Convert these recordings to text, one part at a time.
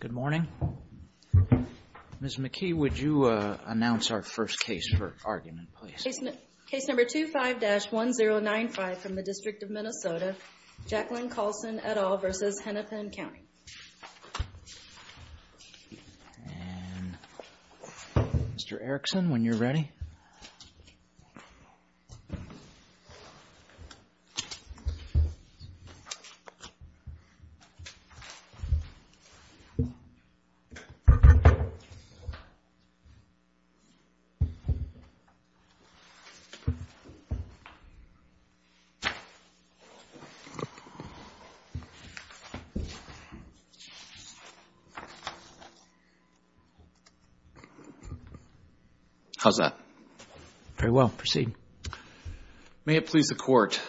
Good morning. Ms. McKee, would you announce our first case for argument, please? Case number 25-1095 from the District of Minnesota, Jacqueline Colson et al. v. Hennepin County. And Mr. Erickson, when you're ready. How's that? Very well. Proceed. May it please the Court,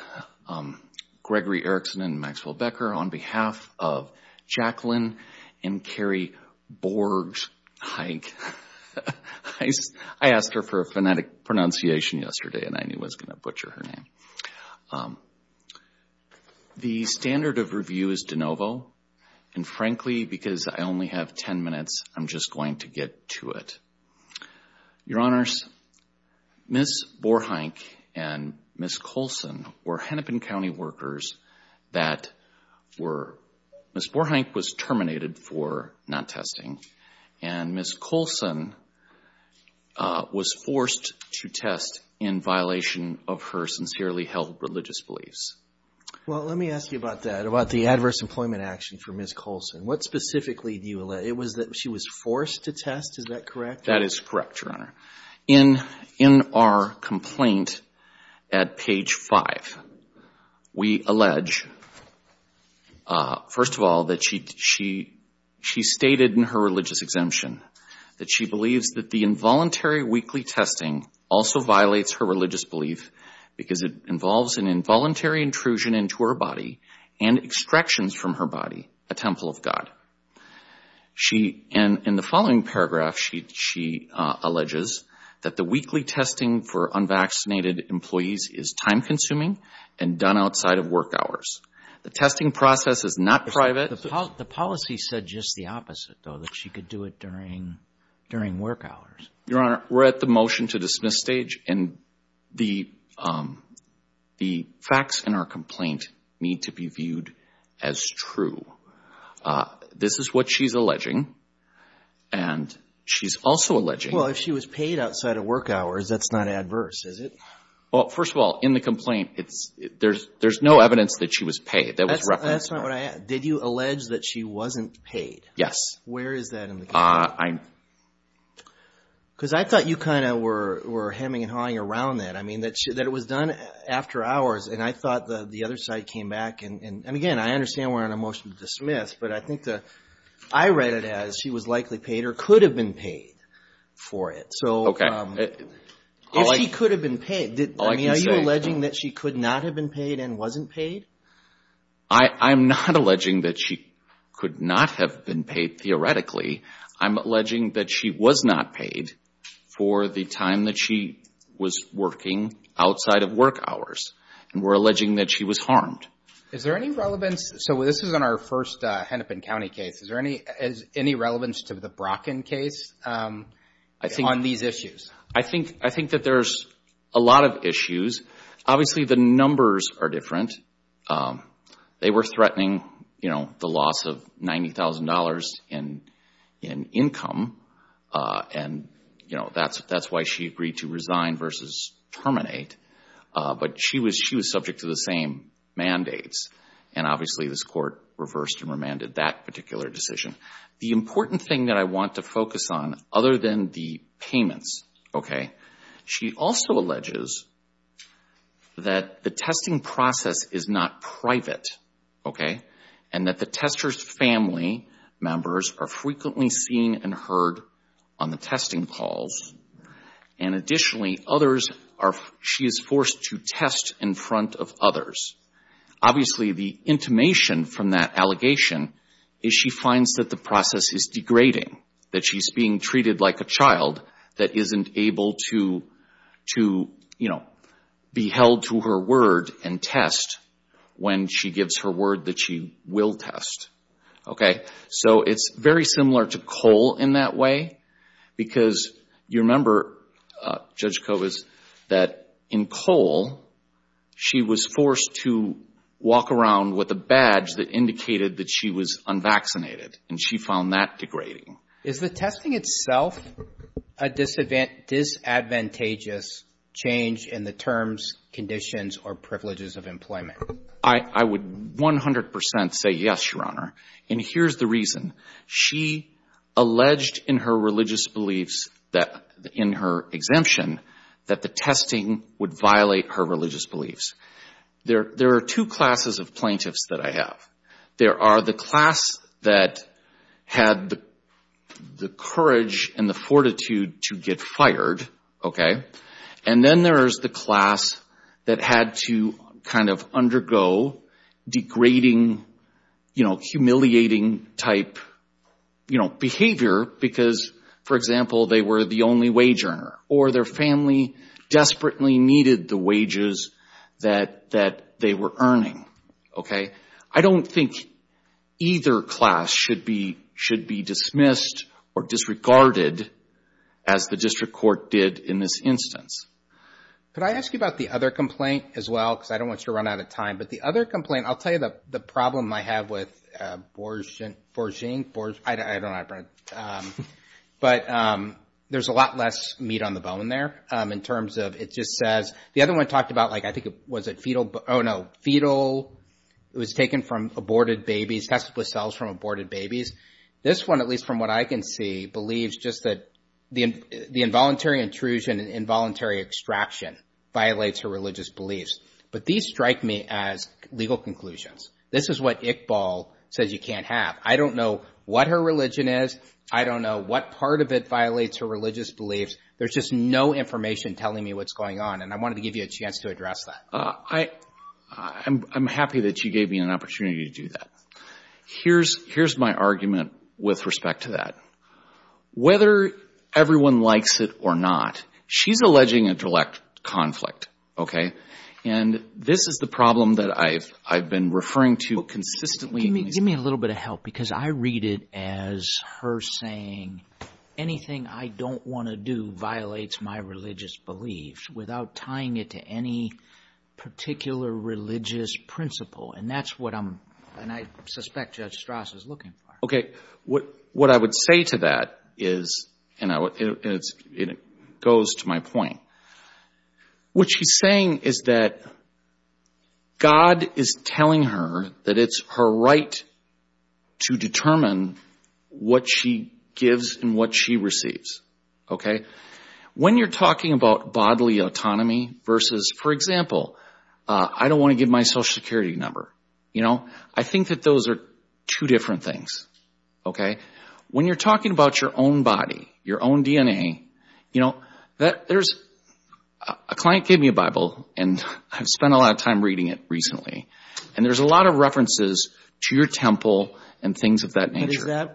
Gregory Erickson and Maxwell Becker, on behalf of Jacqueline and Carrie Borgheim. I asked her for a phonetic pronunciation yesterday, and I knew I was going to butcher her name. The standard of review is de novo, and frankly, because I only have 10 minutes, I'm just going to get to it. Your Honors, Ms. Borgheim and Ms. Colson were Hennepin County workers that were – Ms. Borgheim was terminated for non-testing, and Ms. Colson was forced to test in violation of her sincerely held religious beliefs. Well, let me ask you about that, about the adverse employment action for Ms. Colson. What specifically do you – it was that she was forced to test, is that correct? That is correct, Your Honor. In our complaint at page 5, we allege, first of all, that she stated in her religious exemption that she believes that the involuntary weekly testing also violates her religious belief because it involves an involuntary intrusion into her body and extractions from her body, a temple of God. In the following paragraph, she alleges that the weekly testing for unvaccinated employees is time-consuming and done outside of work hours. The testing process is not private. The policy said just the opposite, though, that she could do it during work hours. Your Honor, we're at the motion to dismiss stage, and the facts in our complaint need to be viewed as true. This is what she's alleging, and she's also alleging – Well, if she was paid outside of work hours, that's not adverse, is it? Well, first of all, in the complaint, there's no evidence that she was paid. That was referenced in our – That's not what I – did you allege that she wasn't paid? Yes. Where is that in the complaint? Because I thought you kind of were hemming and hawing around that. I mean, that it was done after hours, and I thought the other side came back. And again, I understand we're on a motion to dismiss, but I think the – I read it as she was likely paid or could have been paid for it. Okay. So if she could have been paid – All I can say – I mean, are you alleging that she could not have been paid and wasn't paid? I'm not alleging that she could not have been paid, theoretically. I'm alleging that she was not paid for the time that she was working outside of work hours. And we're alleging that she was harmed. Is there any relevance – so this is on our first Hennepin County case. Is there any relevance to the Brocken case on these issues? I think that there's a lot of issues. Obviously, the numbers are different. They were threatening, you know, the loss of $90,000 in income, and, you know, that's why she agreed to resign versus terminate. But she was subject to the same mandates, and obviously this court reversed and remanded that particular decision. The important thing that I want to focus on, other than the payments, okay, she also alleges that the testing process is not private, okay, and that the testers' family members are frequently seen and heard on the testing calls. And additionally, others are – she is forced to test in front of others. Obviously, the intimation from that allegation is she finds that the process is degrading, that she's being treated like a child that isn't able to, you know, be held to her word and test when she gives her word that she will test, okay. So it's very similar to COLE in that way, because you remember, Judge Covas, that in COLE she was forced to walk around with a badge that indicated that she was unvaccinated, and she found that degrading. Is the testing itself a disadvantageous change in the terms, conditions, or privileges of employment? I would 100 percent say yes, Your Honor. And here's the reason. She alleged in her religious beliefs, in her exemption, that the testing would violate her religious beliefs. There are two classes of plaintiffs that I have. There are the class that had the courage and the fortitude to get fired, okay, and then there's the class that had to kind of undergo degrading, you know, humiliating-type behavior because, for example, they were the only wage earner or their family desperately needed the wages that they were earning, okay. I don't think either class should be dismissed or disregarded, as the district court did in this instance. Could I ask you about the other complaint as well? Because I don't want you to run out of time. But the other complaint, I'll tell you the problem I have with forging, I don't know how to pronounce it, but there's a lot less meat on the bone there in terms of it just says, the other one talked about, like, I think it was a fetal, oh, no, fetal, it was taken from aborted babies, tested with cells from aborted babies. This one, at least from what I can see, believes just that the involuntary intrusion and involuntary extraction violates her religious beliefs. But these strike me as legal conclusions. This is what Iqbal says you can't have. I don't know what her religion is. I don't know what part of it violates her religious beliefs. There's just no information telling me what's going on, and I wanted to give you a chance to address that. I'm happy that you gave me an opportunity to do that. Here's my argument with respect to that. Whether everyone likes it or not, she's alleging intellect conflict, okay? And this is the problem that I've been referring to consistently. Give me a little bit of help because I read it as her saying anything I don't want to do violates my religious beliefs without tying it to any particular religious principle, and that's what I'm, and I suspect Judge Strauss is looking for. What I would say to that is, and it goes to my point, what she's saying is that God is telling her that it's her right to determine what she gives and what she receives, okay? When you're talking about bodily autonomy versus, for example, I don't want to give my social security number, I think that those are two different things, okay? When you're talking about your own body, your own DNA, a client gave me a Bible, and I've spent a lot of time reading it recently, and there's a lot of references to your temple and things of that nature.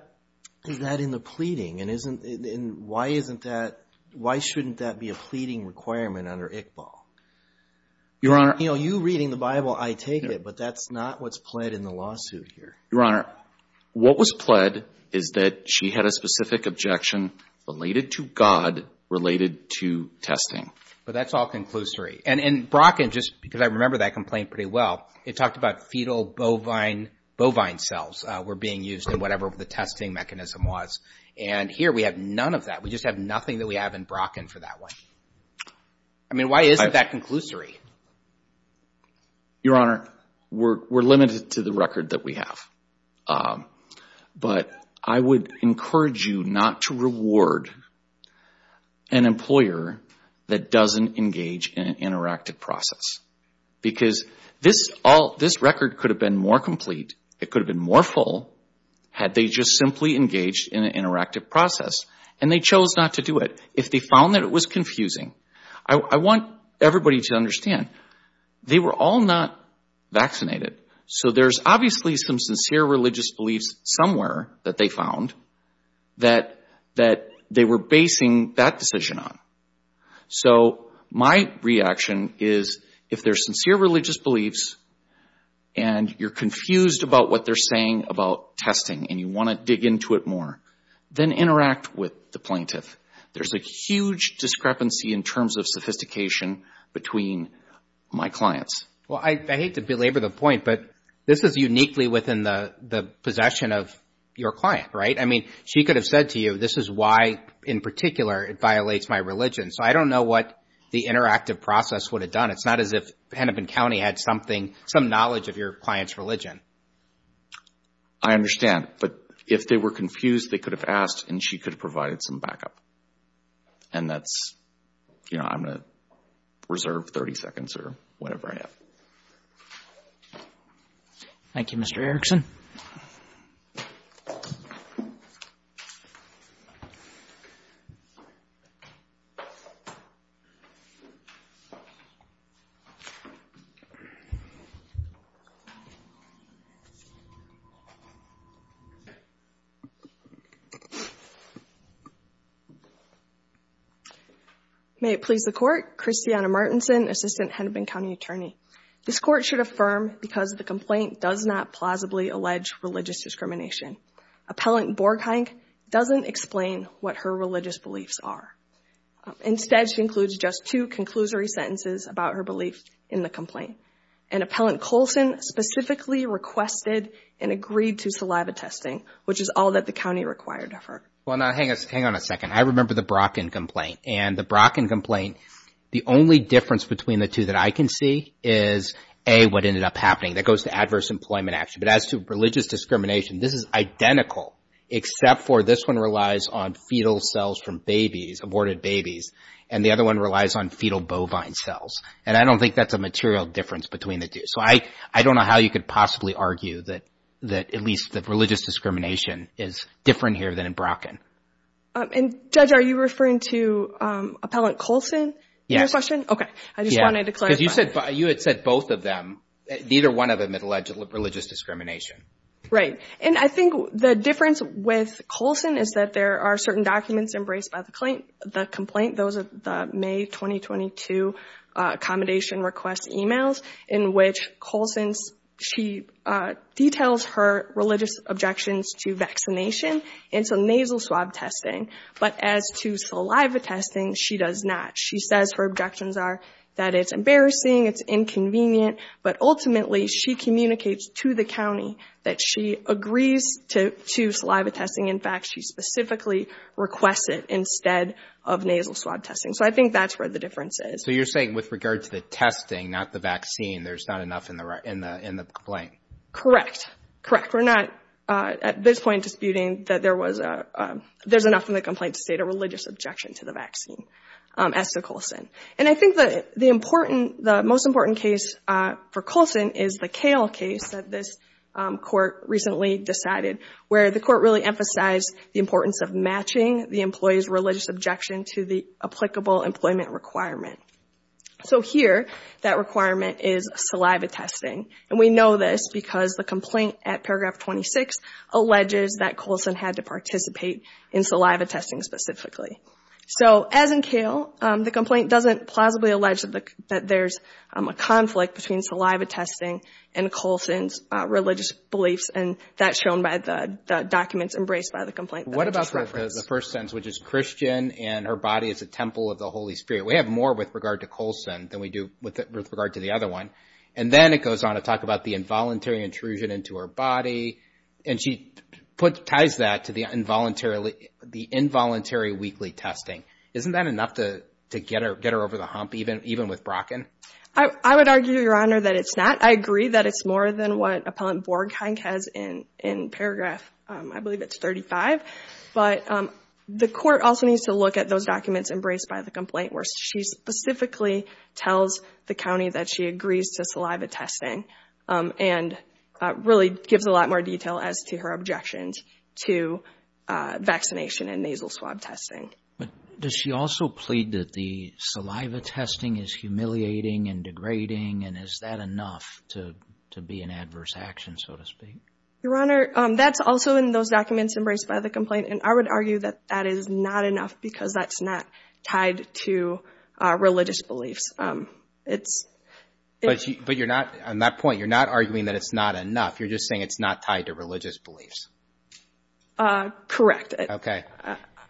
Is that in the pleading, and why isn't that, why shouldn't that be a pleading requirement under Iqbal? Your Honor. You know, you reading the Bible, I take it, but that's not what's pled in the lawsuit here. Your Honor, what was pled is that she had a specific objection related to God, related to testing. But that's all conclusory, and Brocken, just because I remember that complaint pretty well, it talked about fetal bovine cells were being used in whatever the testing mechanism was, and here we have none of that. We just have nothing that we have in Brocken for that one. I mean, why isn't that conclusory? Your Honor, we're limited to the record that we have, but I would encourage you not to reward an employer that doesn't engage in an interactive process, because this record could have been more complete, it could have been more full, had they just simply engaged in an interactive process, and they chose not to do it. If they found that it was confusing, I want everybody to understand, they were all not vaccinated. So there's obviously some sincere religious beliefs somewhere that they found that they were basing that decision on. So my reaction is, if there's sincere religious beliefs, and you're confused about what they're saying about testing, and you want to dig into it more, then interact with the plaintiff. There's a huge discrepancy in terms of sophistication between my clients. Well, I hate to belabor the point, but this is uniquely within the possession of your client, right? I mean, she could have said to you, this is why, in particular, it violates my religion. So I don't know what the interactive process would have done. It's not as if Hennepin County had some knowledge of your client's religion. I understand. But if they were confused, they could have asked, and she could have provided some backup. And that's, you know, I'm going to reserve 30 seconds or whatever I have. Thank you, Mr. Erickson. May it please the Court. Christiana Martinson, Assistant Hennepin County Attorney. This Court should affirm because the complaint does not plausibly allege religious discrimination. Appellant Borgheim doesn't explain what her religious beliefs are. Instead, she includes just two conclusory sentences about her belief in the complaint. And Appellant Colson specifically requested and agreed to saliva testing, which is all that the county required of her. Well, now, hang on a second. I remember the Brocken complaint. And the Brocken complaint, the only difference between the two that I can see is, A, what ended up happening. That goes to adverse employment action. But as to religious discrimination, this is identical, except for this one relies on fetal cells from babies, aborted babies. And the other one relies on fetal bovine cells. And I don't think that's a material difference between the two. So I don't know how you could possibly argue that at least the religious discrimination is different here than in Brocken. And, Judge, are you referring to Appellant Colson in your question? Okay. I just wanted to clarify. Because you had said both of them. Neither one of them had alleged religious discrimination. Right. And I think the difference with Colson is that there are certain documents embraced by the complaint, those of the May 2022 accommodation request emails, in which Colson, she details her religious objections to vaccination and to nasal swab testing. But as to saliva testing, she does not. She says her objections are that it's embarrassing, it's inconvenient, but ultimately she communicates to the county that she agrees to saliva testing. In fact, she specifically requests it instead of nasal swab testing. So I think that's where the difference is. So you're saying with regard to the testing, not the vaccine, there's not enough in the complaint? Correct. Correct. We're not at this point disputing that there's enough in the complaint to state a religious objection to the vaccine. As to Colson. And I think the most important case for Colson is the Kale case that this court recently decided, where the court really emphasized the importance of matching the employee's religious objection to the applicable employment requirement. So here, that requirement is saliva testing. And we know this because the complaint at paragraph 26 alleges that Colson had to participate in saliva testing specifically. So as in Kale, the complaint doesn't plausibly allege that there's a conflict between saliva testing and Colson's religious beliefs, and that's shown by the documents embraced by the complaint that I just referenced. What about the first sentence, which is Christian and her body is a temple of the Holy Spirit? We have more with regard to Colson than we do with regard to the other one. And then it goes on to talk about the involuntary intrusion into her body, and she ties that to the involuntary weekly testing. Isn't that enough to get her over the hump, even with Brocken? I would argue, Your Honor, that it's not. I agree that it's more than what Appellant Borgheink has in paragraph, I believe it's 35. But the court also needs to look at those documents embraced by the complaint, where she specifically tells the county that she agrees to saliva testing and really gives a lot more detail as to her objections to vaccination and nasal swab testing. But does she also plead that the saliva testing is humiliating and degrading, and is that enough to be an adverse action, so to speak? Your Honor, that's also in those documents embraced by the complaint, and I would argue that that is not enough because that's not tied to religious beliefs. But on that point, you're not arguing that it's not enough. You're just saying it's not tied to religious beliefs. Correct.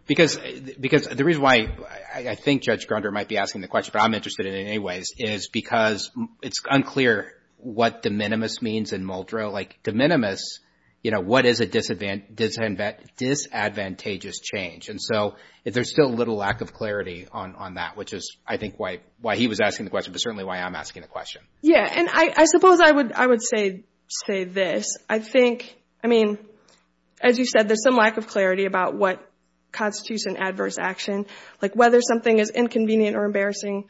Because the reason why I think Judge Grunder might be asking the question, but I'm interested in it anyways, is because it's unclear what de minimis means in Muldrow. Like de minimis, what is a disadvantageous change? And so there's still little lack of clarity on that, which is I think why he was asking the question, but certainly why I'm asking the question. Yeah, and I suppose I would say this. I think, I mean, as you said, there's some lack of clarity about what constitutes an adverse action. Like whether something is inconvenient or embarrassing,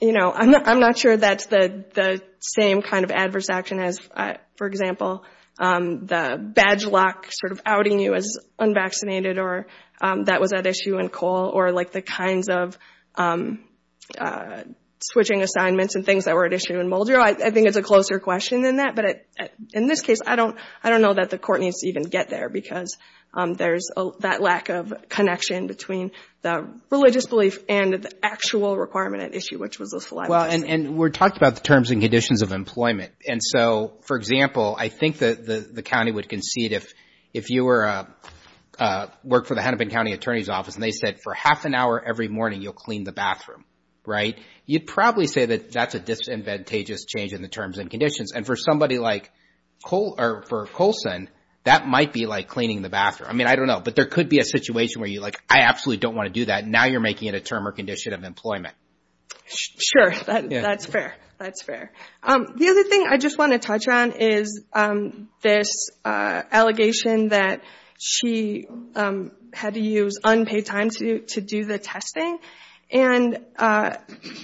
you know, I'm not sure that's the same kind of adverse action as, for example, the badge lock sort of outing you as unvaccinated or that was at issue in Cole, or like the kinds of switching assignments and things that were at issue in Muldrow. I think it's a closer question than that. But in this case, I don't know that the court needs to even get there because there's that lack of connection between the religious belief and the actual requirement at issue, which was the saliva test. Well, and we're talking about the terms and conditions of employment. And so, for example, I think the county would concede if you were to work for the Hennepin County Attorney's Office and they said for half an hour every morning you'll clean the bathroom, right? You'd probably say that that's a disadvantageous change in the terms and conditions. And for somebody like Cole or for Colson, that might be like cleaning the bathroom. I mean, I don't know, but there could be a situation where you're like, I absolutely don't want to do that. Now you're making it a term or condition of employment. Sure, that's fair. That's fair. The other thing I just want to touch on is this allegation that she had to use unpaid time to do the testing. And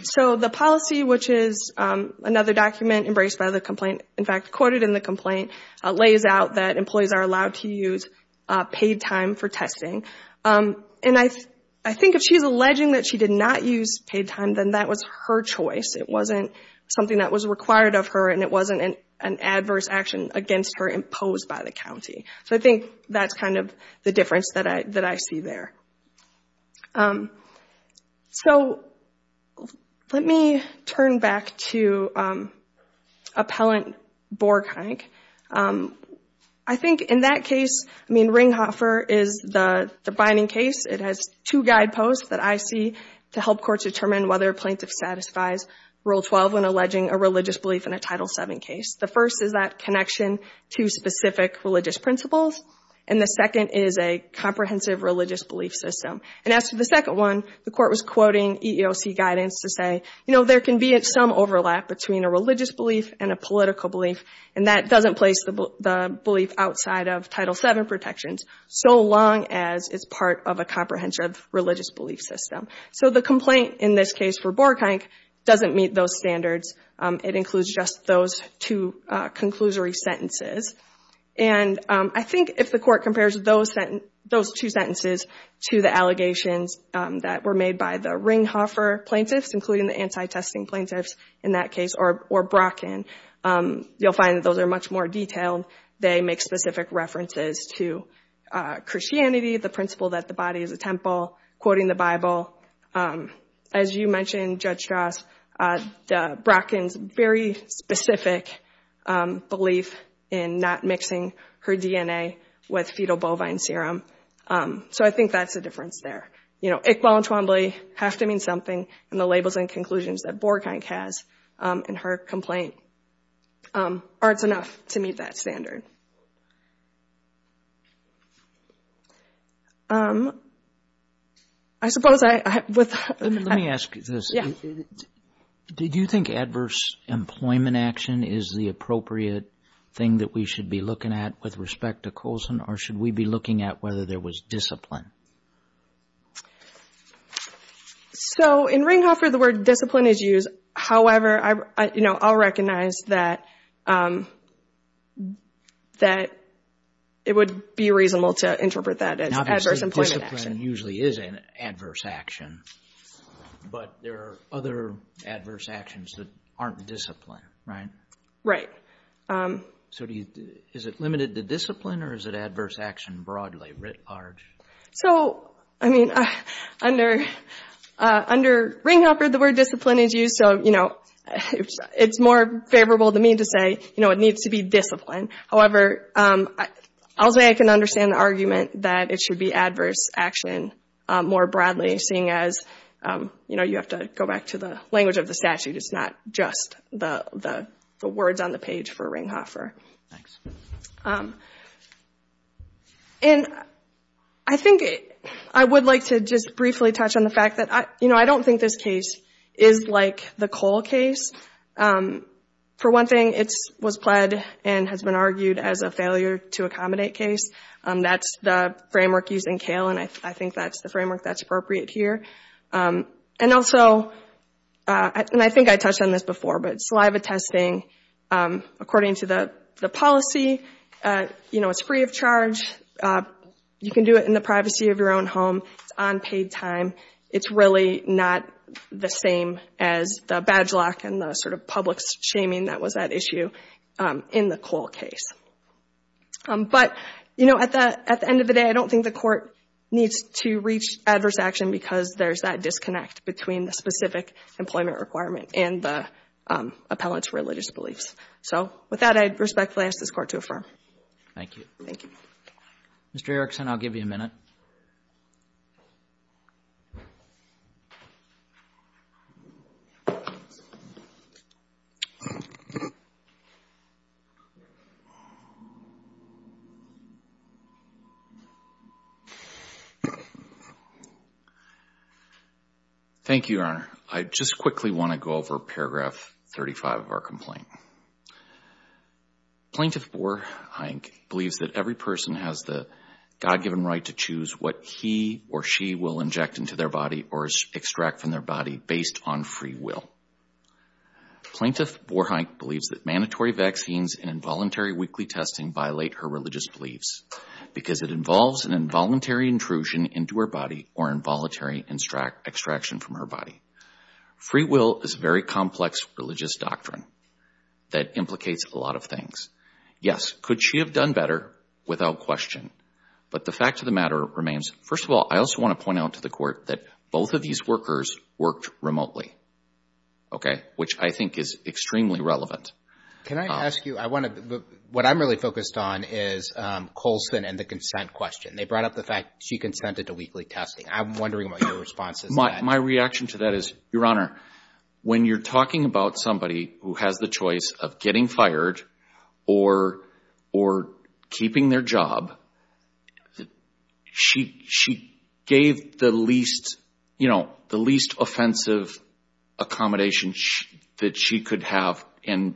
so the policy, which is another document embraced by the complaint, in fact, quoted in the complaint, lays out that employees are allowed to use paid time for testing. And I think if she's alleging that she did not use paid time, then that was her choice. It wasn't something that was required of her, and it wasn't an adverse action against her imposed by the county. So I think that's kind of the difference that I see there. So let me turn back to Appellant Borgheink. I think in that case, I mean, Ringhofer is the binding case. It has two guideposts that I see to help courts determine whether a plaintiff satisfies Rule 12 when alleging a religious belief in a Title VII case. The first is that connection to specific religious principles, and the second is a comprehensive religious belief system. And as for the second one, the court was quoting EEOC guidance to say, you know, there can be some overlap between a religious belief and a political belief, and that doesn't place the belief outside of Title VII protections, so long as it's part of a comprehensive religious belief system. So the complaint in this case for Borgheink doesn't meet those standards. It includes just those two conclusory sentences. And I think if the court compares those two sentences to the allegations that were made by the Ringhofer plaintiffs, including the anti-testing plaintiffs in that case, or Brocken, you'll find that those are much more detailed. They make specific references to Christianity, the principle that the body is a temple, quoting the Bible. As you mentioned, Judge Strauss, Brocken's very specific belief in not mixing her DNA with fetal bovine serum. So I think that's a difference there. You know, Iqbal and Twombly have to mean something, and the labels and conclusions that Borgheink has in her complaint aren't enough to meet that standard. I suppose I— Let me ask you this. Did you think adverse employment action is the appropriate thing that we should be looking at with respect to Colson, or should we be looking at whether there was discipline? So in Ringhofer, the word discipline is used. However, you know, I'll recognize that it would be reasonable to interpret that as adverse employment action. Obviously, post-discipline usually is an adverse action, but there are other adverse actions that aren't discipline, right? Right. So is it limited to discipline, or is it adverse action broadly writ large? So, I mean, under Ringhofer, the word discipline is used, so, you know, it's more favorable to me to say, you know, it needs to be discipline. However, I'll say I can understand the argument that it should be adverse action more broadly, seeing as, you know, you have to go back to the language of the statute. It's not just the words on the page for Ringhofer. Thanks. And I think I would like to just briefly touch on the fact that, you know, I don't think this case is like the Cole case. For one thing, it was pled and has been argued as a failure to accommodate case. That's the framework used in Cale, and I think that's the framework that's appropriate here. And also, and I think I touched on this before, but saliva testing, according to the policy, you know, it's free of charge. You can do it in the privacy of your own home. It's unpaid time. It's really not the same as the badge lock and the sort of public shaming that was at issue in the Cole case. But, you know, at the end of the day, I don't think the court needs to reach adverse action because there's that disconnect between the specific employment requirement and the appellant's religious beliefs. So with that, I respectfully ask this court to affirm. Thank you. Mr. Erickson, I'll give you a minute. Thank you, Your Honor. I just quickly want to go over paragraph 35 of our complaint. Plaintiff Boerheink believes that every person has the God-given right to choose what he or she will inject into their body or extract from their body based on free will. Plaintiff Boerheink believes that mandatory vaccines and involuntary weekly testing violate her religious beliefs because it involves an involuntary intrusion into her body or involuntary extraction from her body. Free will is a very complex religious doctrine that implicates a lot of things. Yes, could she have done better without question? But the fact of the matter remains, first of all, I also want to point out to the court that both of these workers worked remotely, okay, which I think is extremely relevant. Can I ask you, what I'm really focused on is Colson and the consent question. They brought up the fact she consented to weekly testing. I'm wondering what your response is to that. My reaction to that is, Your Honor, when you're talking about somebody who has the choice of getting fired or keeping their job, she gave the least offensive accommodation that she could have and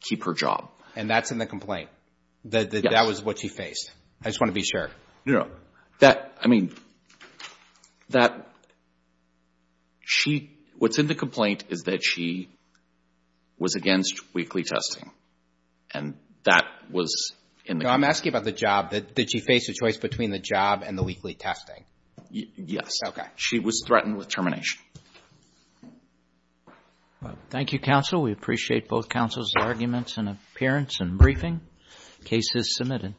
keep her job. And that's in the complaint? Yes. That was what she faced? I just want to be sure. I mean, what's in the complaint is that she was against weekly testing, and that was in the complaint. I'm asking about the job. Did she face a choice between the job and the weekly testing? Yes. Okay. She was threatened with termination. Thank you, counsel. We appreciate both counsel's arguments and appearance and briefing. Case is submitted.